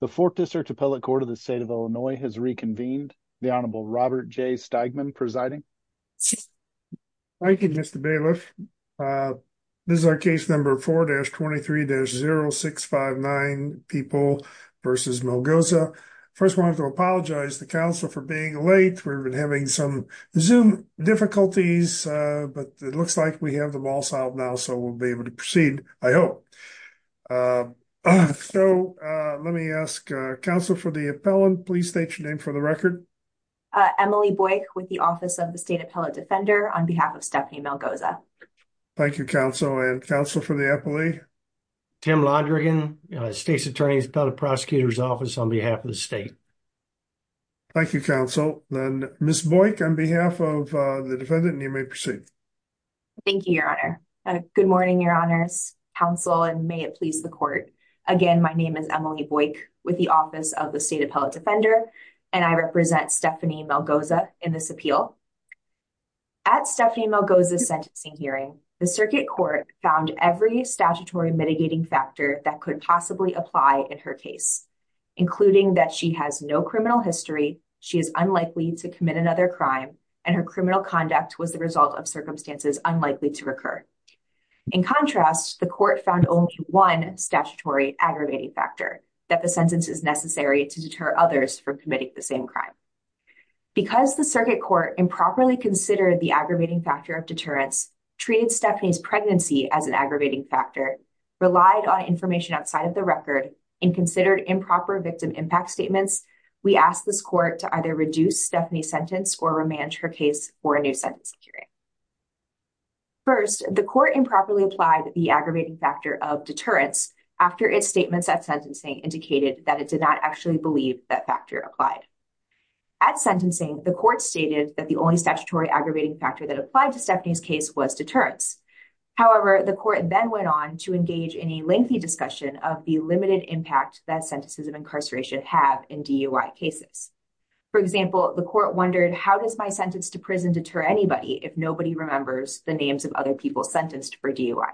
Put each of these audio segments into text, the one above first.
The 4th District Appellate Court of the state of Illinois has reconvened. The Honorable Robert J. Steigman presiding. Thank you, Mr. Bailiff. This is our case number 4-23-0659, people versus Melgoza. First, I wanted to apologize to the council for being late. We've been having some Zoom difficulties, but it looks like we have them all solved now, so we'll be able to proceed, I hope. So, let me ask counsel for the appellant. Please state your name for the record. Emily Boyk with the Office of the State Appellate Defender on behalf of Stephanie Melgoza. Thank you, counsel and counsel for the appellate. Tim Londrigan, State's Attorney's Appellate Prosecutor's Office on behalf of the state. Thank you, counsel. Then, Ms. Boyk, on behalf of the defendant, you may proceed. Thank you, Your Honor. Good morning, Your Honors, counsel, and may it please the court. Again, my name is Emily Boyk with the Office of the State Appellate Defender, and I represent Stephanie Melgoza in this appeal. At Stephanie Melgoza's sentencing hearing, the circuit court found every statutory mitigating factor that could possibly apply in her case, including that she has no criminal history, she is unlikely to commit another crime, and her criminal conduct was the result of circumstances unlikely to occur. In contrast, the court found only one statutory aggravating factor, that the sentence is necessary to deter others from committing the same crime. Because the circuit court improperly considered the aggravating factor of deterrence, treated Stephanie's pregnancy as an aggravating factor, relied on information outside of the record, and considered improper victim impact statements, we asked this court to either reduce Stephanie's sentence or remand her case for a new sentence hearing. First, the court improperly applied the aggravating factor of deterrence after its statements at sentencing indicated that it did not actually believe that factor applied. At sentencing, the court stated that the only statutory aggravating factor that applied to engage in a lengthy discussion of the limited impact that sentences of incarceration have in DUI cases. For example, the court wondered, how does my sentence to prison deter anybody if nobody remembers the names of other people sentenced for DUI?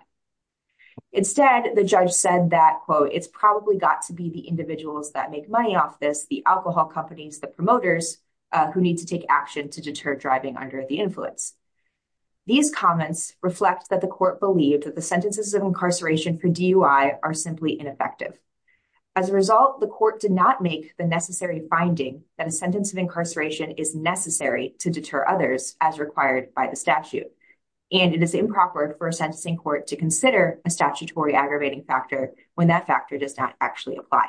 Instead, the judge said that, quote, it's probably got to be the individuals that make money off this, the alcohol companies, the promoters, who need to take action to deter driving under the influence. These comments reflect that the court believed that the sentences of incarceration for DUI are simply ineffective. As a result, the court did not make the necessary finding that a sentence of incarceration is necessary to deter others as required by the statute. And it is improper for a sentencing court to consider a statutory aggravating factor when that factor does not apply.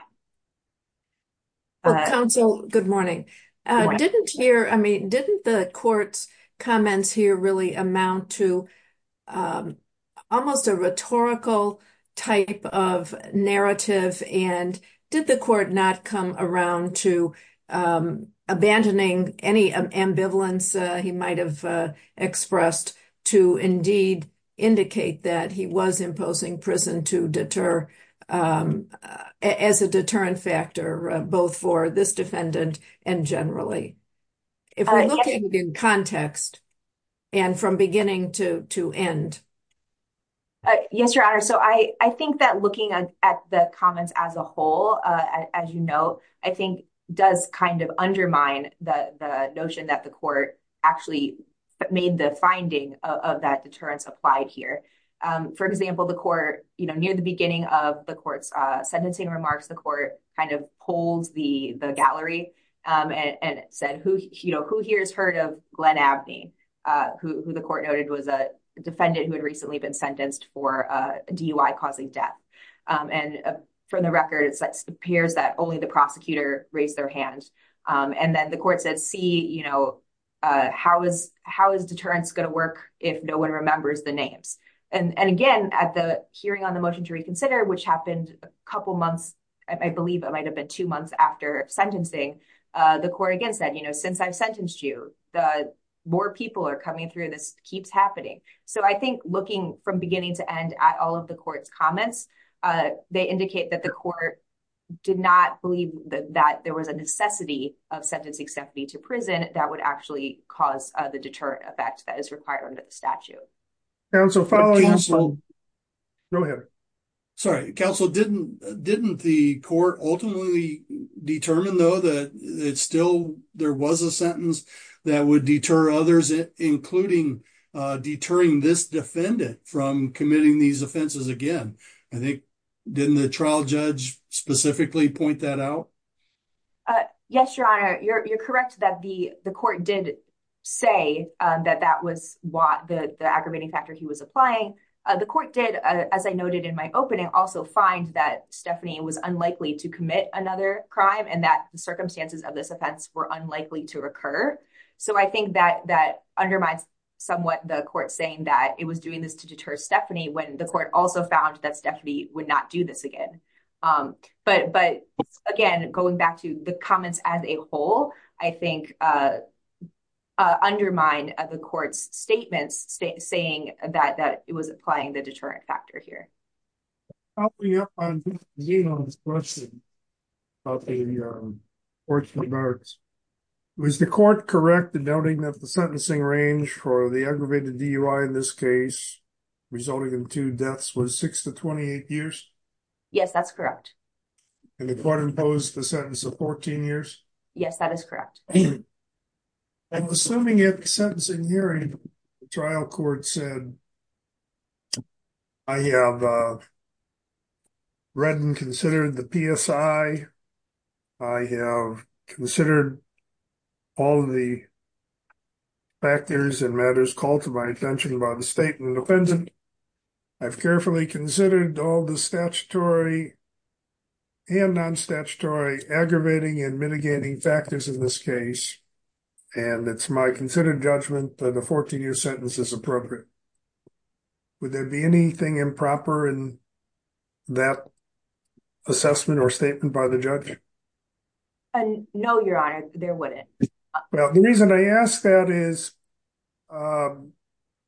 Counsel, good morning. Didn't the court's comments here really amount to almost a rhetorical type of narrative? And did the court not come around to abandoning any ambivalence he might have expressed to indeed indicate that he was imposing prison to deter as a deterrent factor, both for this defendant and generally? If we're looking in context and from beginning to end. Yes, Your Honor. So I think that looking at the comments as a whole, as you know, I think does kind of undermine the notion that the court actually made the finding of that deterrence applied here. For example, the court, you know, near the beginning of the sentencing remarks, the court kind of holds the gallery and said, you know, who here has heard of Glenn Abney, who the court noted was a defendant who had recently been sentenced for DUI causing death. And from the record, it appears that only the prosecutor raised their hand. And then the court said, see, you know, how is deterrence going to work if no one remembers the names? And again, at the hearing on the motion to reconsider, which happened a couple months, I believe it might have been two months after sentencing, the court against that, you know, since I've sentenced you, the more people are coming through, this keeps happening. So I think looking from beginning to end at all of the court's comments, they indicate that the court did not believe that there was a necessity of sentencing Stephanie to prison that would actually cause the effect that is required under the statute. Council, follow you. Go ahead. Sorry, council didn't, didn't the court ultimately determine though, that it's still there was a sentence that would deter others, including deterring this defendant from committing these offenses again. I think, didn't the trial judge specifically point that out? Yes, Your Honor, you're correct that the the court did say that that was what the aggravating factor he was applying. The court did, as I noted in my opening, also find that Stephanie was unlikely to commit another crime and that the circumstances of this offense were unlikely to recur. So I think that that undermines somewhat the court saying that it was doing this to deter Stephanie when the court also found that Stephanie would not do this again. But But, again, going back to the comments as a whole, I think undermine the court's statements saying that that it was applying the deterrent factor here. I'll be up on this question about the court's remarks. Was the court correct in noting that the sentencing range for the aggravated DUI in this case, resulting in two deaths was six to 28 years? Yes, that's correct. And the court imposed the 14 years? Yes, that is correct. And assuming it sentencing hearing, the trial court said, I have read and considered the PSI. I have considered all of the factors and matters called to my attention by the state and the defendant. I've carefully considered all the statutory and non statutory aggravating and mitigating factors in this case. And it's my considered judgment that a 14 year sentence is appropriate. Would there be anything improper in that assessment or statement by the judge? And no, Your Honor, there wouldn't. Well, the reason I asked that is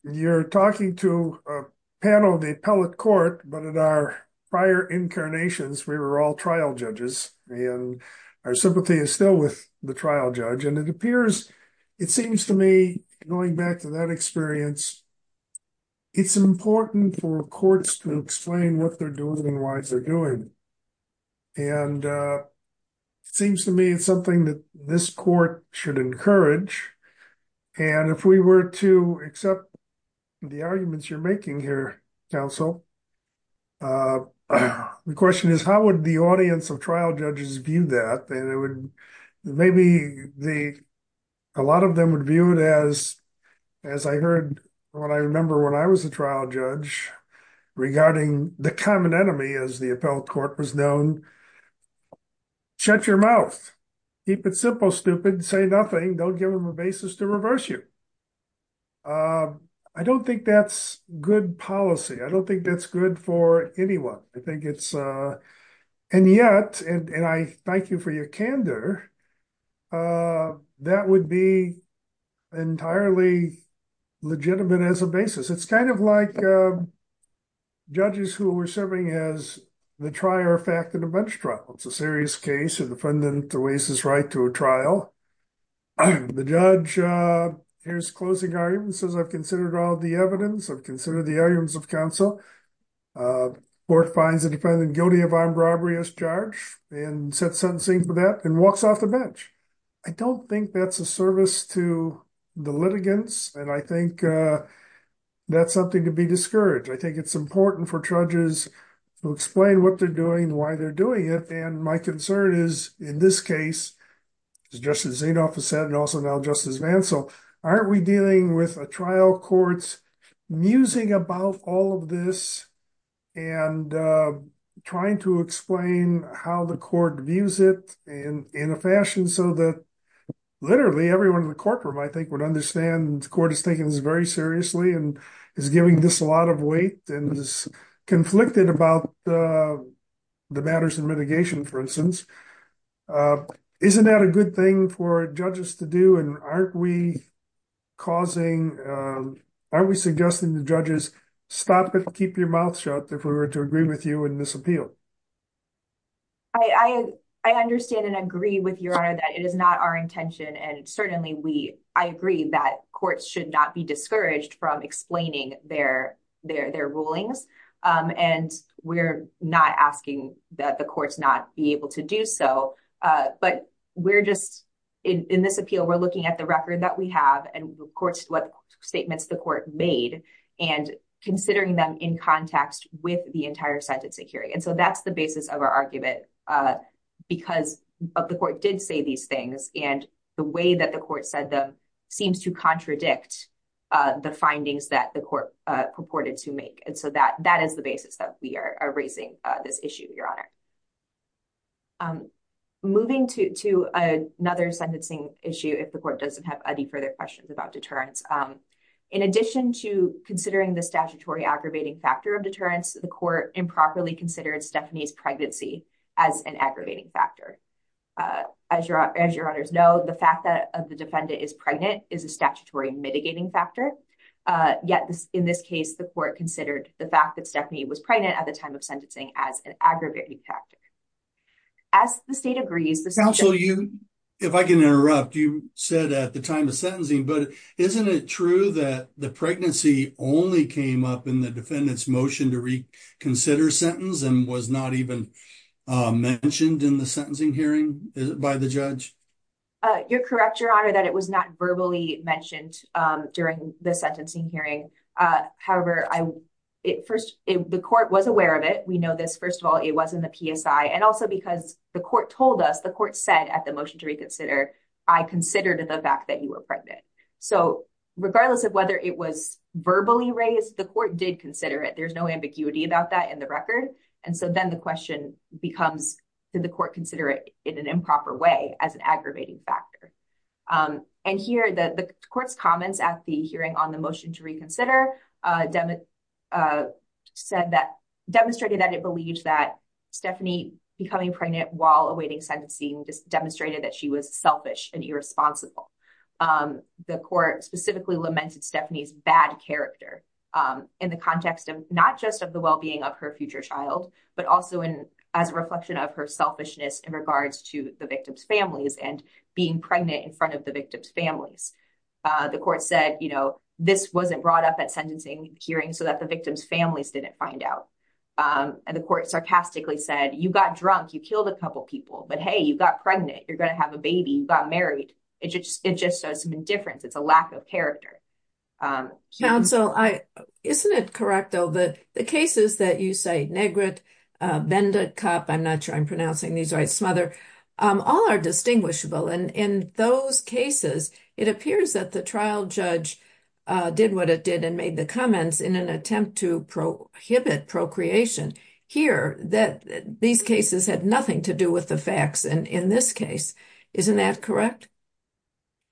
you're talking to a panel of the appellate court, but in our prior incarnations, we were all trial judges and our sympathy is still with the trial judge. And it appears, it seems to me, going back to that experience, it's important for courts to explain what they're doing and why they're doing. And it seems to me it's something that this court should encourage. And if we were to accept the arguments you're making here, counsel, the question is, how would the audience of trial judges view that? And it would, maybe a lot of them would view it as, as I heard, what I remember when I was a trial judge, regarding the common enemy as the appellate court was known, shut your mouth, keep it simple, stupid, say nothing, don't give them a basis to reverse you. I don't think that's good policy. I don't think that's good for anyone. I think it's, and yet, and I thank you for your candor, that would be entirely legitimate as a basis. It's kind of like judges who were serving as the trier of fact in a bench trial. It's a serious case of the defendant to raise his right to a trial. The judge hears closing arguments, says I've all the evidence, I've considered the arguments of counsel. Court finds the defendant guilty of armed robbery as charged and sets sentencing for that and walks off the bench. I don't think that's a service to the litigants. And I think that's something to be discouraged. I think it's important for judges to explain what they're doing, why they're doing it. And my concern is in this case, as Justice Zanoff has said and also now Justice Vancell, aren't we dealing with a trial court musing about all of this and trying to explain how the court views it in a fashion so that literally everyone in the courtroom, I think, would understand the court is taking this very seriously and is giving this a lot of weight and is conflicted about the matters of mitigation, for instance. Isn't that a good thing for judges to do? And aren't we causing, aren't we suggesting to judges, stop it, keep your mouth shut if we were to agree with you in this appeal? I understand and agree with your honor that it is not our intention. And certainly I agree that courts should not be discouraged from explaining their rulings. And we're not asking that the courts not be able to do so. But we're just, in this appeal, we're looking at the record that we have and of course, what statements the court made and considering them in context with the entire sentencing hearing. And so that's the basis of our argument because the court did say these things and the way that the court said them seems to contradict the findings that the court purported to make. And so that is the basis that we are raising this issue, your honor. Moving to another sentencing issue, if the court doesn't have any further questions about deterrence. In addition to considering the statutory aggravating factor of deterrence, the court improperly considered Stephanie's pregnancy as an aggravating factor. As your honors know, the fact that the defendant is pregnant is a statutory mitigating factor. Yet, in this case, the court considered the fact that Stephanie was pregnant at the time of sentencing as an aggravating factor. As the state agrees... Counsel, if I can interrupt, you said at the time of sentencing, but isn't it true that the pregnancy only came up in the defendant's motion to reconsider sentence and was not even mentioned in the sentencing hearing by the judge? You're correct, your honor, that it was not verbally mentioned during the sentencing hearing. However, the court was aware of it. We know this, first of all, it was in the PSI and also because the court told us, the court said at the motion to reconsider, I considered the fact that you were pregnant. So regardless of whether it was verbally raised, the court did consider it. There's no ambiguity about that in the record. And so then the question becomes, did the court consider it in an improper way as an aggravating factor? And here, the court's comments at the hearing on the motion to reconsider demonstrated that it believes that Stephanie becoming pregnant while awaiting sentencing just demonstrated that she was selfish and irresponsible. The court specifically lamented Stephanie's bad character in the context of not just of the well-being of her future child, but also as a reflection of her selfishness in regards to the victim's families and being pregnant in front of the victim's families. The court said, you know, this wasn't brought up at sentencing hearing so that the victim's families didn't find out. And the court sarcastically said, you got drunk, you killed a couple people, but hey, you got pregnant, you're going to have a baby, you got married. It just shows indifference. It's a lack of character. Counsel, isn't it correct, though, that the cases that you cite, Negret, Bendekop, I'm not sure I'm pronouncing these right, Smother, all are distinguishable. And in those cases, it appears that the trial judge did what it did and made the comments in an attempt to prohibit procreation. Here, these cases had nothing to do with the facts in this case. Isn't that correct?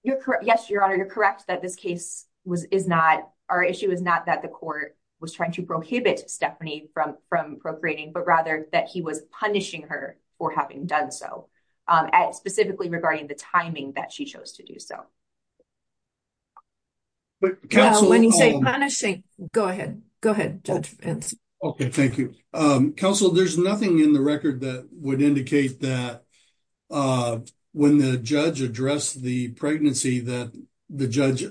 You're correct. Yes, Your Honor, you're correct that this case is not, our issue is not that the court was trying to prohibit Stephanie from procreating, but rather that he was punishing her for having done so, specifically regarding the timing that she chose to do so. When you say punishing, go ahead. Go ahead, Judge Fentz. Okay, thank you. Counsel, there's nothing in the record that would indicate that when the judge addressed the pregnancy that the judge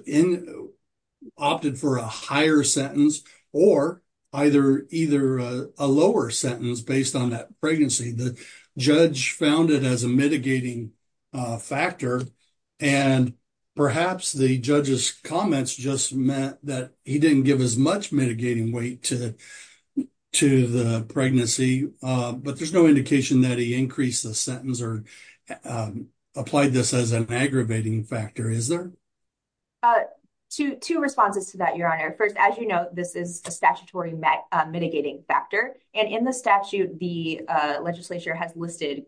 opted for a higher sentence or either a lower sentence based on that pregnancy. The judge found it as a mitigating factor, and perhaps the judge's comments just meant that he didn't give as much mitigating weight to the pregnancy. But there's no indication that he increased the sentence or applied this as an aggravating factor, is there? Two responses to that, Your Honor. First, as you know, this is a statutory mitigating factor. And in the statute, the legislature has listed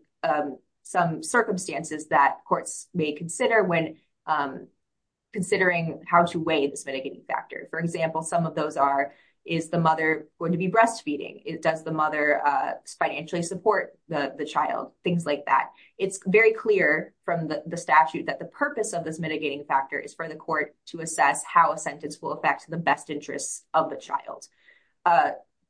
some circumstances that courts may consider when considering how to weigh this mitigating factor. For example, some of those are, is the mother going to be breastfeeding? Does the mother financially support the child? Things like that. It's very clear from the statute that the purpose of this mitigating factor is for the court to assess how a sentence will affect the best interests of the child.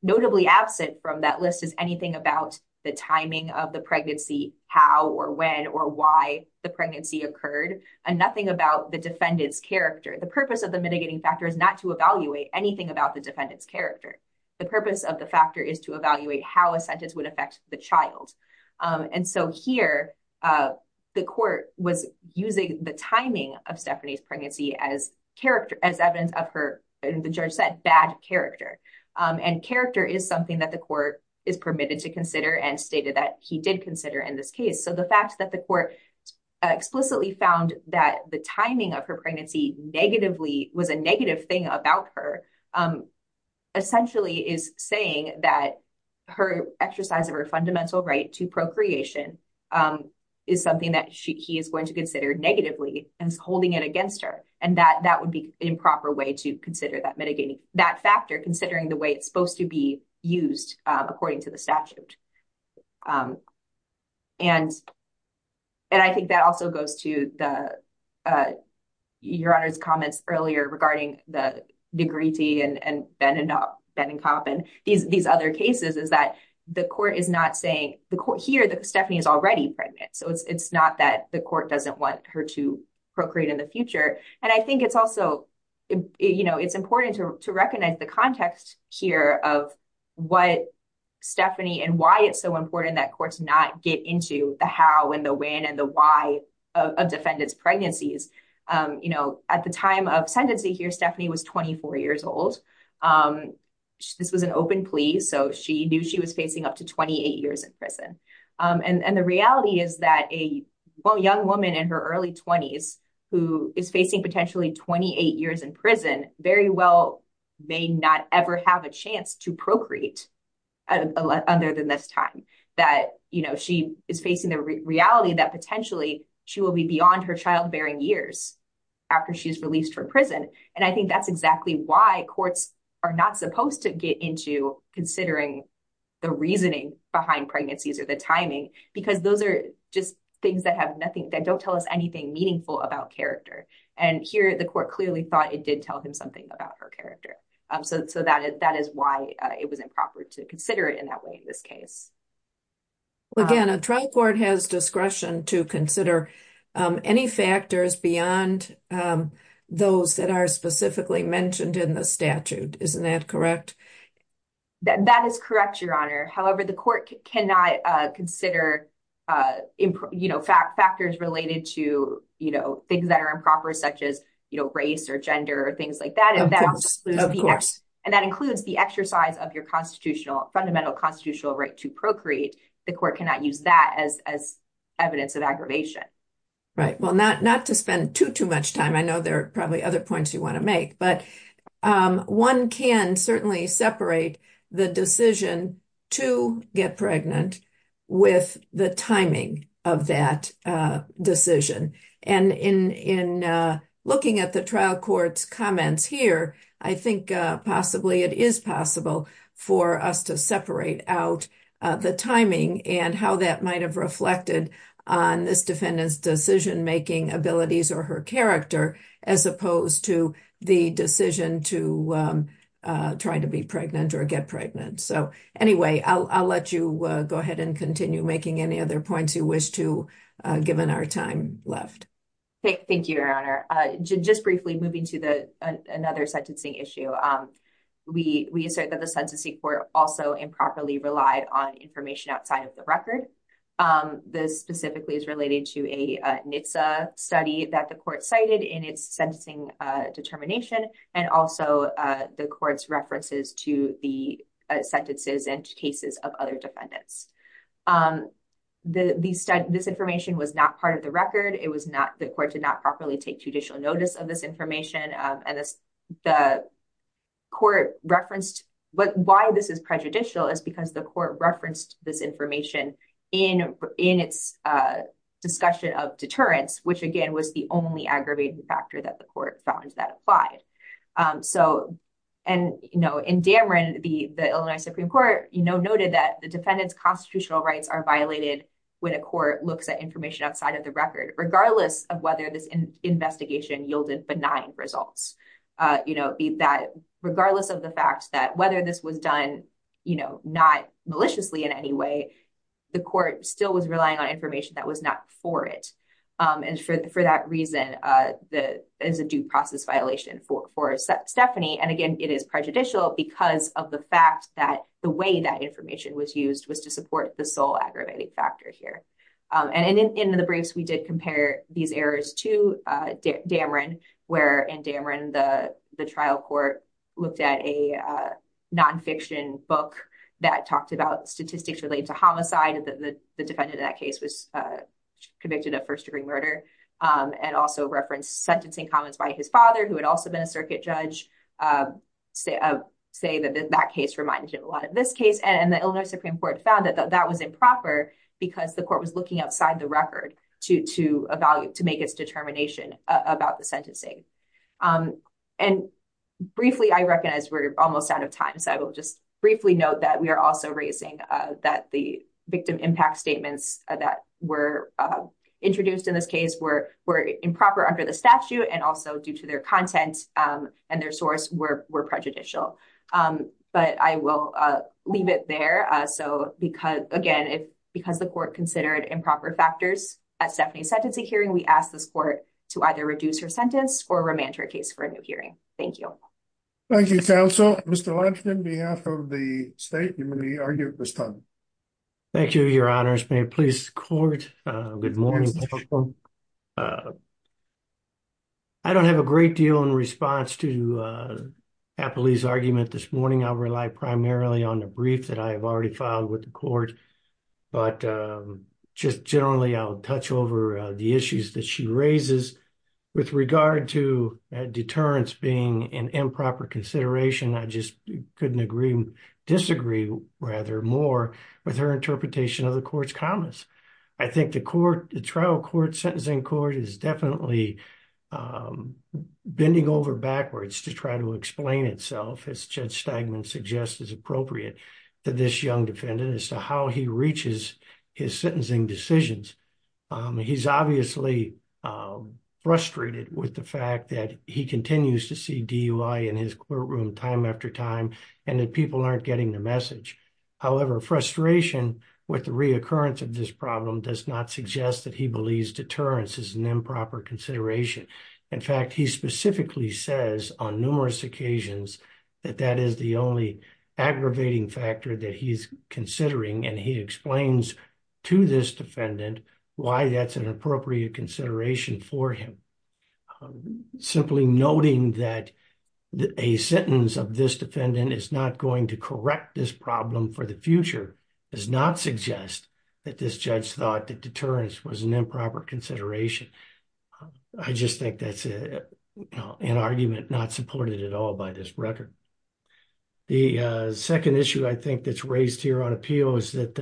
Notably absent from that list is anything about the timing of the pregnancy, how or when or why the pregnancy occurred, and nothing about the defendant's character. The purpose of the mitigating factor is not to evaluate anything about the defendant's character. The purpose of the factor is to evaluate how a sentence would affect the child. And so here, the court was using the timing of Stephanie's pregnancy as evidence of her, the judge said, bad character. And character is something that the court is permitted to consider and stated that he did consider in this case. So the fact that the court explicitly found that the timing of her was a negative thing about her essentially is saying that her exercise of her fundamental right to procreation is something that he is going to consider negatively and is holding it against her. And that would be an improper way to consider that mitigating, that factor, considering the way it's supposed to be used according to the statute. And I think that also goes to the Your Honor's comments earlier regarding the Negrete and Beninop, Beninop, and these other cases is that the court is not saying, here Stephanie is already pregnant, so it's not that the court doesn't want her to procreate in the future. And I think it's also, you know, it's important to recognize the context here of what Stephanie and why it's so important that courts not get into the how and the when and the why of defendant's pregnancies. You know, at the time of sentencing here, Stephanie was 24 years old. This was an open plea, so she knew she was facing up to 28 years in prison. And the reality is that a young woman in her early 20s, who is facing potentially 28 years in prison, very well may not ever have a chance to procreate at other than this time. That, you know, she is facing the reality that potentially she will be beyond her childbearing years after she's released from prison. And I think that's exactly why courts are not supposed to get into considering the reasoning behind pregnancies or the timing, because those are just things that have nothing, that don't tell us anything meaningful about character. And here the court clearly thought it did tell him something about her character. So that is why it was improper to consider it in that way in this case. Again, a trial court has discretion to consider any factors beyond those that are specifically mentioned in the statute. Isn't that correct? That is correct, Your Honor. However, the court cannot consider, you know, factors related to, you know, things that are improper, such as, race or gender or things like that. And that includes the exercise of your constitutional, fundamental constitutional right to procreate. The court cannot use that as evidence of aggravation. Right. Well, not to spend too, too much time. I know there are probably other points you want to make, but one can certainly separate the decision to get pregnant with the timing of that decision. And in looking at the trial court's comments here, I think possibly it is possible for us to separate out the timing and how that might have reflected on this defendant's decision-making abilities or her character, as opposed to the decision to try to be pregnant or get pregnant. So anyway, I'll let you go ahead and continue making any other points you wish to, given our time left. Thank you, Your Honor. Just briefly moving to another sentencing issue. We assert that the sentencing court also improperly relied on information outside of the record. This specifically is related to a NHTSA study that the court cited in its sentencing determination and also the court's references to the sentences and cases of other defendants. This information was not part of the record. It was not, the court did not properly take judicial notice of this information. And the court referenced, but why this is prejudicial is because the court referenced this information in its discussion of deterrence, which again was the only aggravating factor that the court found that applied. In Dameron, the Illinois Supreme Court noted that the defendant's constitutional rights are violated when a court looks at information outside of the record, regardless of whether this investigation yielded benign results. Regardless of the fact that whether this was done not maliciously in any way, the court still was relying on information that was not for it. And for that reason, that is a due process violation for Stephanie. And again, it is prejudicial because of the fact that the way that information was used was to support the sole aggravating factor here. And in the briefs, we did compare these errors to Dameron, where in Dameron, the trial court looked at a nonfiction book that talked about statistics related to homicide, that the defendant in that case was convicted of first degree murder, and also referenced sentencing comments by his father, who had also been a circuit judge, say that that case reminded him a lot of this case. And the Illinois Supreme Court found that that was improper because the court was looking outside the record to make its determination about the sentencing. And briefly, I recognize we're almost out of time, so I will just briefly note that we are also raising that the victim impact statements that were introduced in this case were improper under the statute and also due to their content and their source were prejudicial. But I will leave it there. So again, because the court considered improper factors at Stephanie's sentencing hearing, we asked this court to either reduce her sentence or remand her case for a new hearing. Thank you. Thank you, counsel. Mr. Lansing, on behalf of the state, you may argue at this time. Thank you, your honors. May it please the court. Good morning. I don't have a great deal in response to Appley's argument this morning. I'll rely primarily on the brief that I have already filed with the court. But just generally, I'll touch over the issues that she raises with regard to deterrence being an improper consideration. I just couldn't agree, disagree rather more with her interpretation of the court's comments. I think the trial court, sentencing court is definitely bending over backwards to try to explain itself, as Judge Stegman suggests is appropriate to this young defendant as to how he reaches his sentencing decisions. He's obviously frustrated with the fact that he continues to see DUI in his courtroom time after time, and that people aren't getting the message. However, frustration with the reoccurrence of this problem does not suggest that he believes deterrence is an improper consideration. In fact, he specifically says on numerous occasions, that that is the only aggravating factor that he's considering. And he explains to this defendant why that's an appropriate consideration for him. Simply noting that a sentence of this defendant is not going to correct this problem for the future, does not suggest that this judge thought that deterrence was an improper consideration. I just think that's an argument not supported at all by this record. The second issue I think that's raised here on appeal is that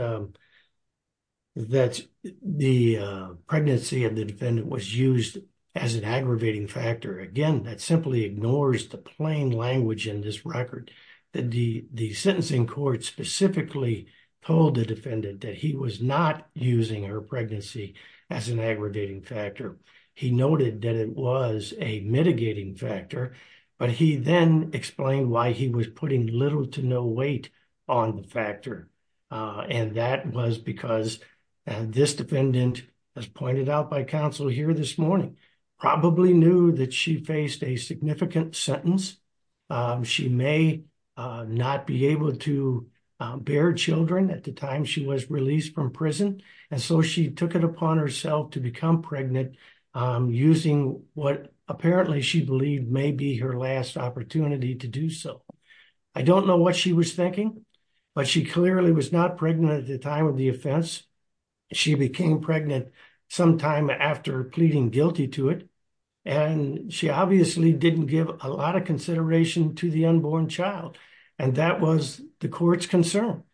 the pregnancy of the defendant was used as an aggravating factor. Again, that simply ignores the plain language in this record, that the sentencing court specifically told the defendant that he was not using her pregnancy as an aggravating factor. He noted that it was a mitigating factor, but he then explained why he was putting little to no weight on the factor. And that was because this defendant, as pointed out by counsel here this morning, probably knew that she faced a significant sentence. She may not be able to bear children at the time she was released from prison. And so she took it upon herself to become pregnant using what apparently she believed may be her last opportunity to do so. I don't know what she was thinking, but she clearly was not pregnant at the time of the offense. She became pregnant sometime after pleading guilty to it. And she obviously didn't give a lot of consideration to the unborn child. And that was the court's concern.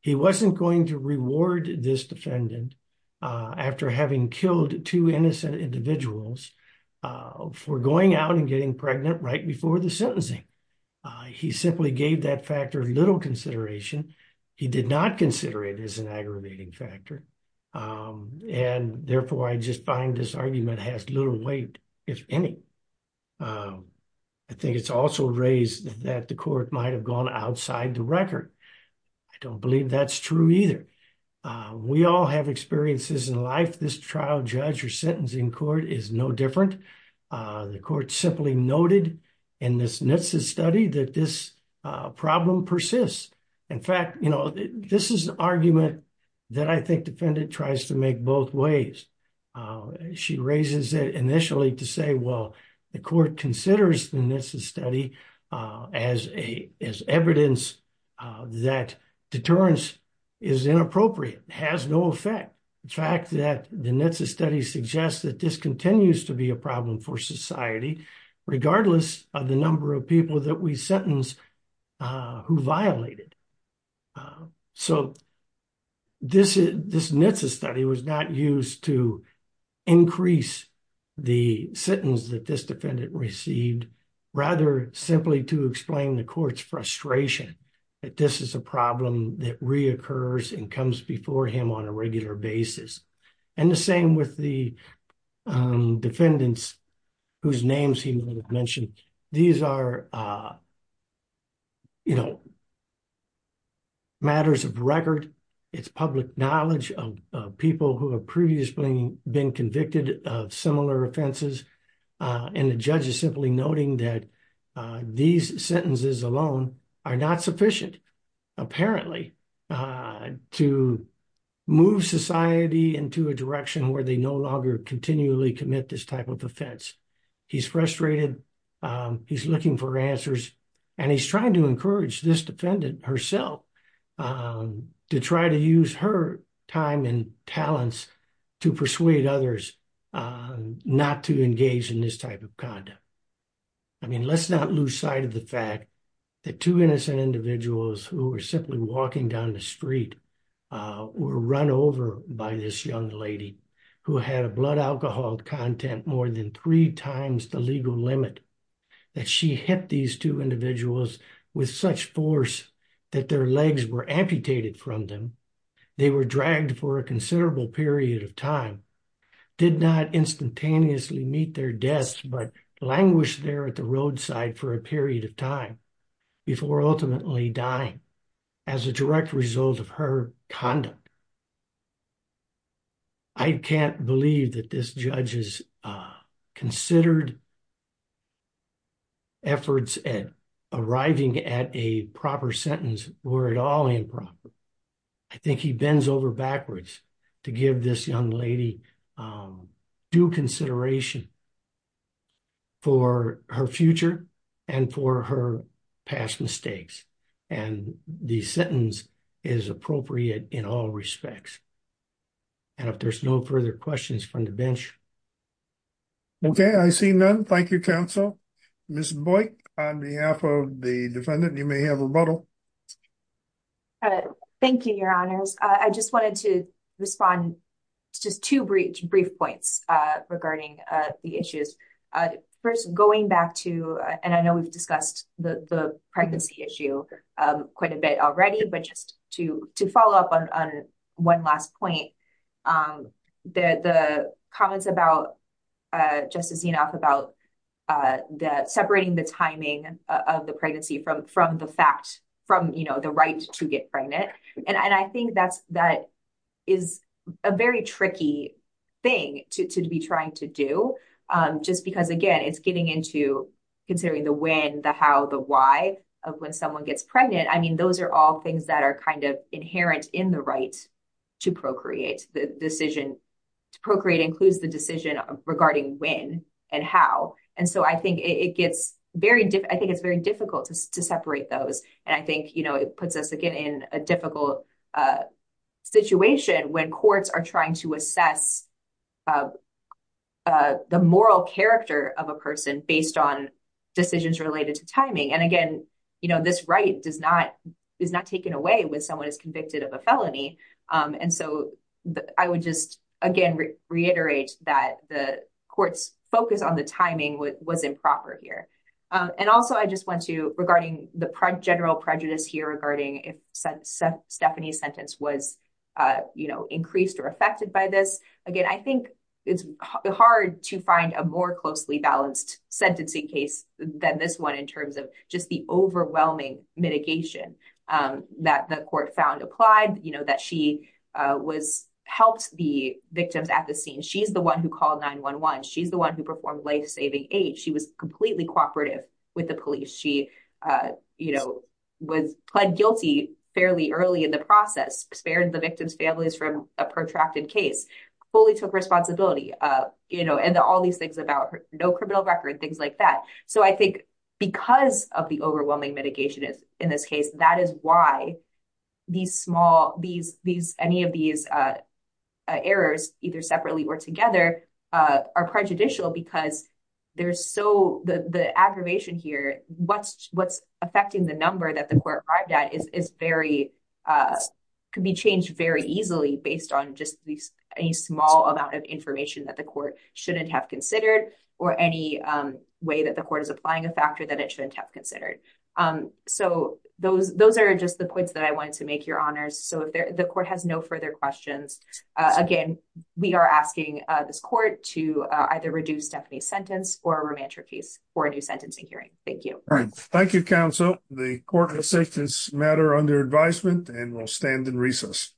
He wasn't going to reward this defendant after having killed two innocent individuals for going out and getting pregnant right before the sentencing. He simply gave that factor little consideration. He did not consider it as an aggravating factor. And therefore, I just find this argument has little weight, if any. I think it's also raised that the court might have gone outside the record. I don't believe that's true either. We all have experiences in life. This trial judge or sentencing court is no different. The court simply noted in this NHTSA study that this problem persists. In fact, you know, this is an argument that I think defendant tries to make both ways. She raises it initially to say, well, the court considers the NHTSA study as evidence that deterrence is inappropriate, has no effect. In fact, the NHTSA study suggests that this continues to be a problem for society, regardless of the number of people that we sentence who violate it. So this NHTSA study was not used to increase the sentence that this defendant received, rather simply to explain the court's frustration that this is a problem that reoccurs and comes before him on a regular basis. And the same with the defendants whose names he mentioned. These are, you know, public matters of record. It's public knowledge of people who have previously been convicted of similar offenses. And the judge is simply noting that these sentences alone are not sufficient, apparently, to move society into a direction where they no longer continually commit this type of offense. He's frustrated. He's looking for answers. And he's trying to discourage this defendant herself to try to use her time and talents to persuade others not to engage in this type of conduct. I mean, let's not lose sight of the fact that two innocent individuals who were simply walking down the street were run over by this young lady who had a blood alcohol content more than three times the legal limit, that she hit these two individuals with such force that their legs were amputated from them, they were dragged for a considerable period of time, did not instantaneously meet their deaths, but languished there at the roadside for a period of time before ultimately dying as a direct result of her conduct. I can't believe that this judge has considered efforts at arriving at a proper sentence were at all improper. I think he bends over backwards to give this young lady due consideration for her future and for her past mistakes. And the sentence is appropriate in all respects. And if there's no further questions from the bench. Okay, I see none. Thank you, counsel. Ms. Boyk, on behalf of the defendant, you may have a rebuttal. All right. Thank you, Your Honors. I just wanted to respond to just two brief points regarding the issues. First, going back to, and I know we've discussed the pregnancy issue quite a bit already, but just to follow up on one last point, the comments about, just as enough about separating the timing of the pregnancy from the fact, from the right to get pregnant. And I think that is a very tricky thing to be trying to do. Just because again, it's getting into considering the when, the how, the why of when someone gets pregnant. I mean, those are all things that are kind of inherent in the right to procreate. The decision to procreate includes the decision regarding when and how. And so I think it's very difficult to separate those. And I think it puts us again in a difficult situation when courts are trying to assess the moral character of a person based on decisions related to timing. And again, this right is not taken away when someone is convicted of a felony. And so I would just again, reiterate that the court's focus on the timing was improper here. And also I just want to, regarding the general prejudice here regarding if Stephanie's sentence was increased or affected by this. Again, I think it's hard to find a more closely balanced sentencing case than this one in terms of just the overwhelming mitigation that the court found applied, that she was, helped the victims at the scene. She's the one who called 911. She's the one who performed life-saving aid. She was completely cooperative with the police. She, you know, was pled guilty fairly early in the process, spared the victim's families from a protracted case, fully took responsibility, you know, and all these things about no criminal record, things like that. So I think because of the overwhelming mitigation in this case, that is why these small, these, these, any of these errors, either separately or together, are prejudicial because there's so, the aggravation here, what's, what's affecting the number that the court arrived at is very, could be changed very easily based on just these, any small amount of information that the court shouldn't have considered or any way that the court is applying a factor that it shouldn't have considered. So those, those are just the points that I wanted to make, Your Honors. So if the court has no further questions, again, we are asking this court to either reduce Stephanie's sentence or remand her case for a new sentencing hearing. Thank you. Thank you, counsel. The court has sent this matter under advisement and will stand in recess.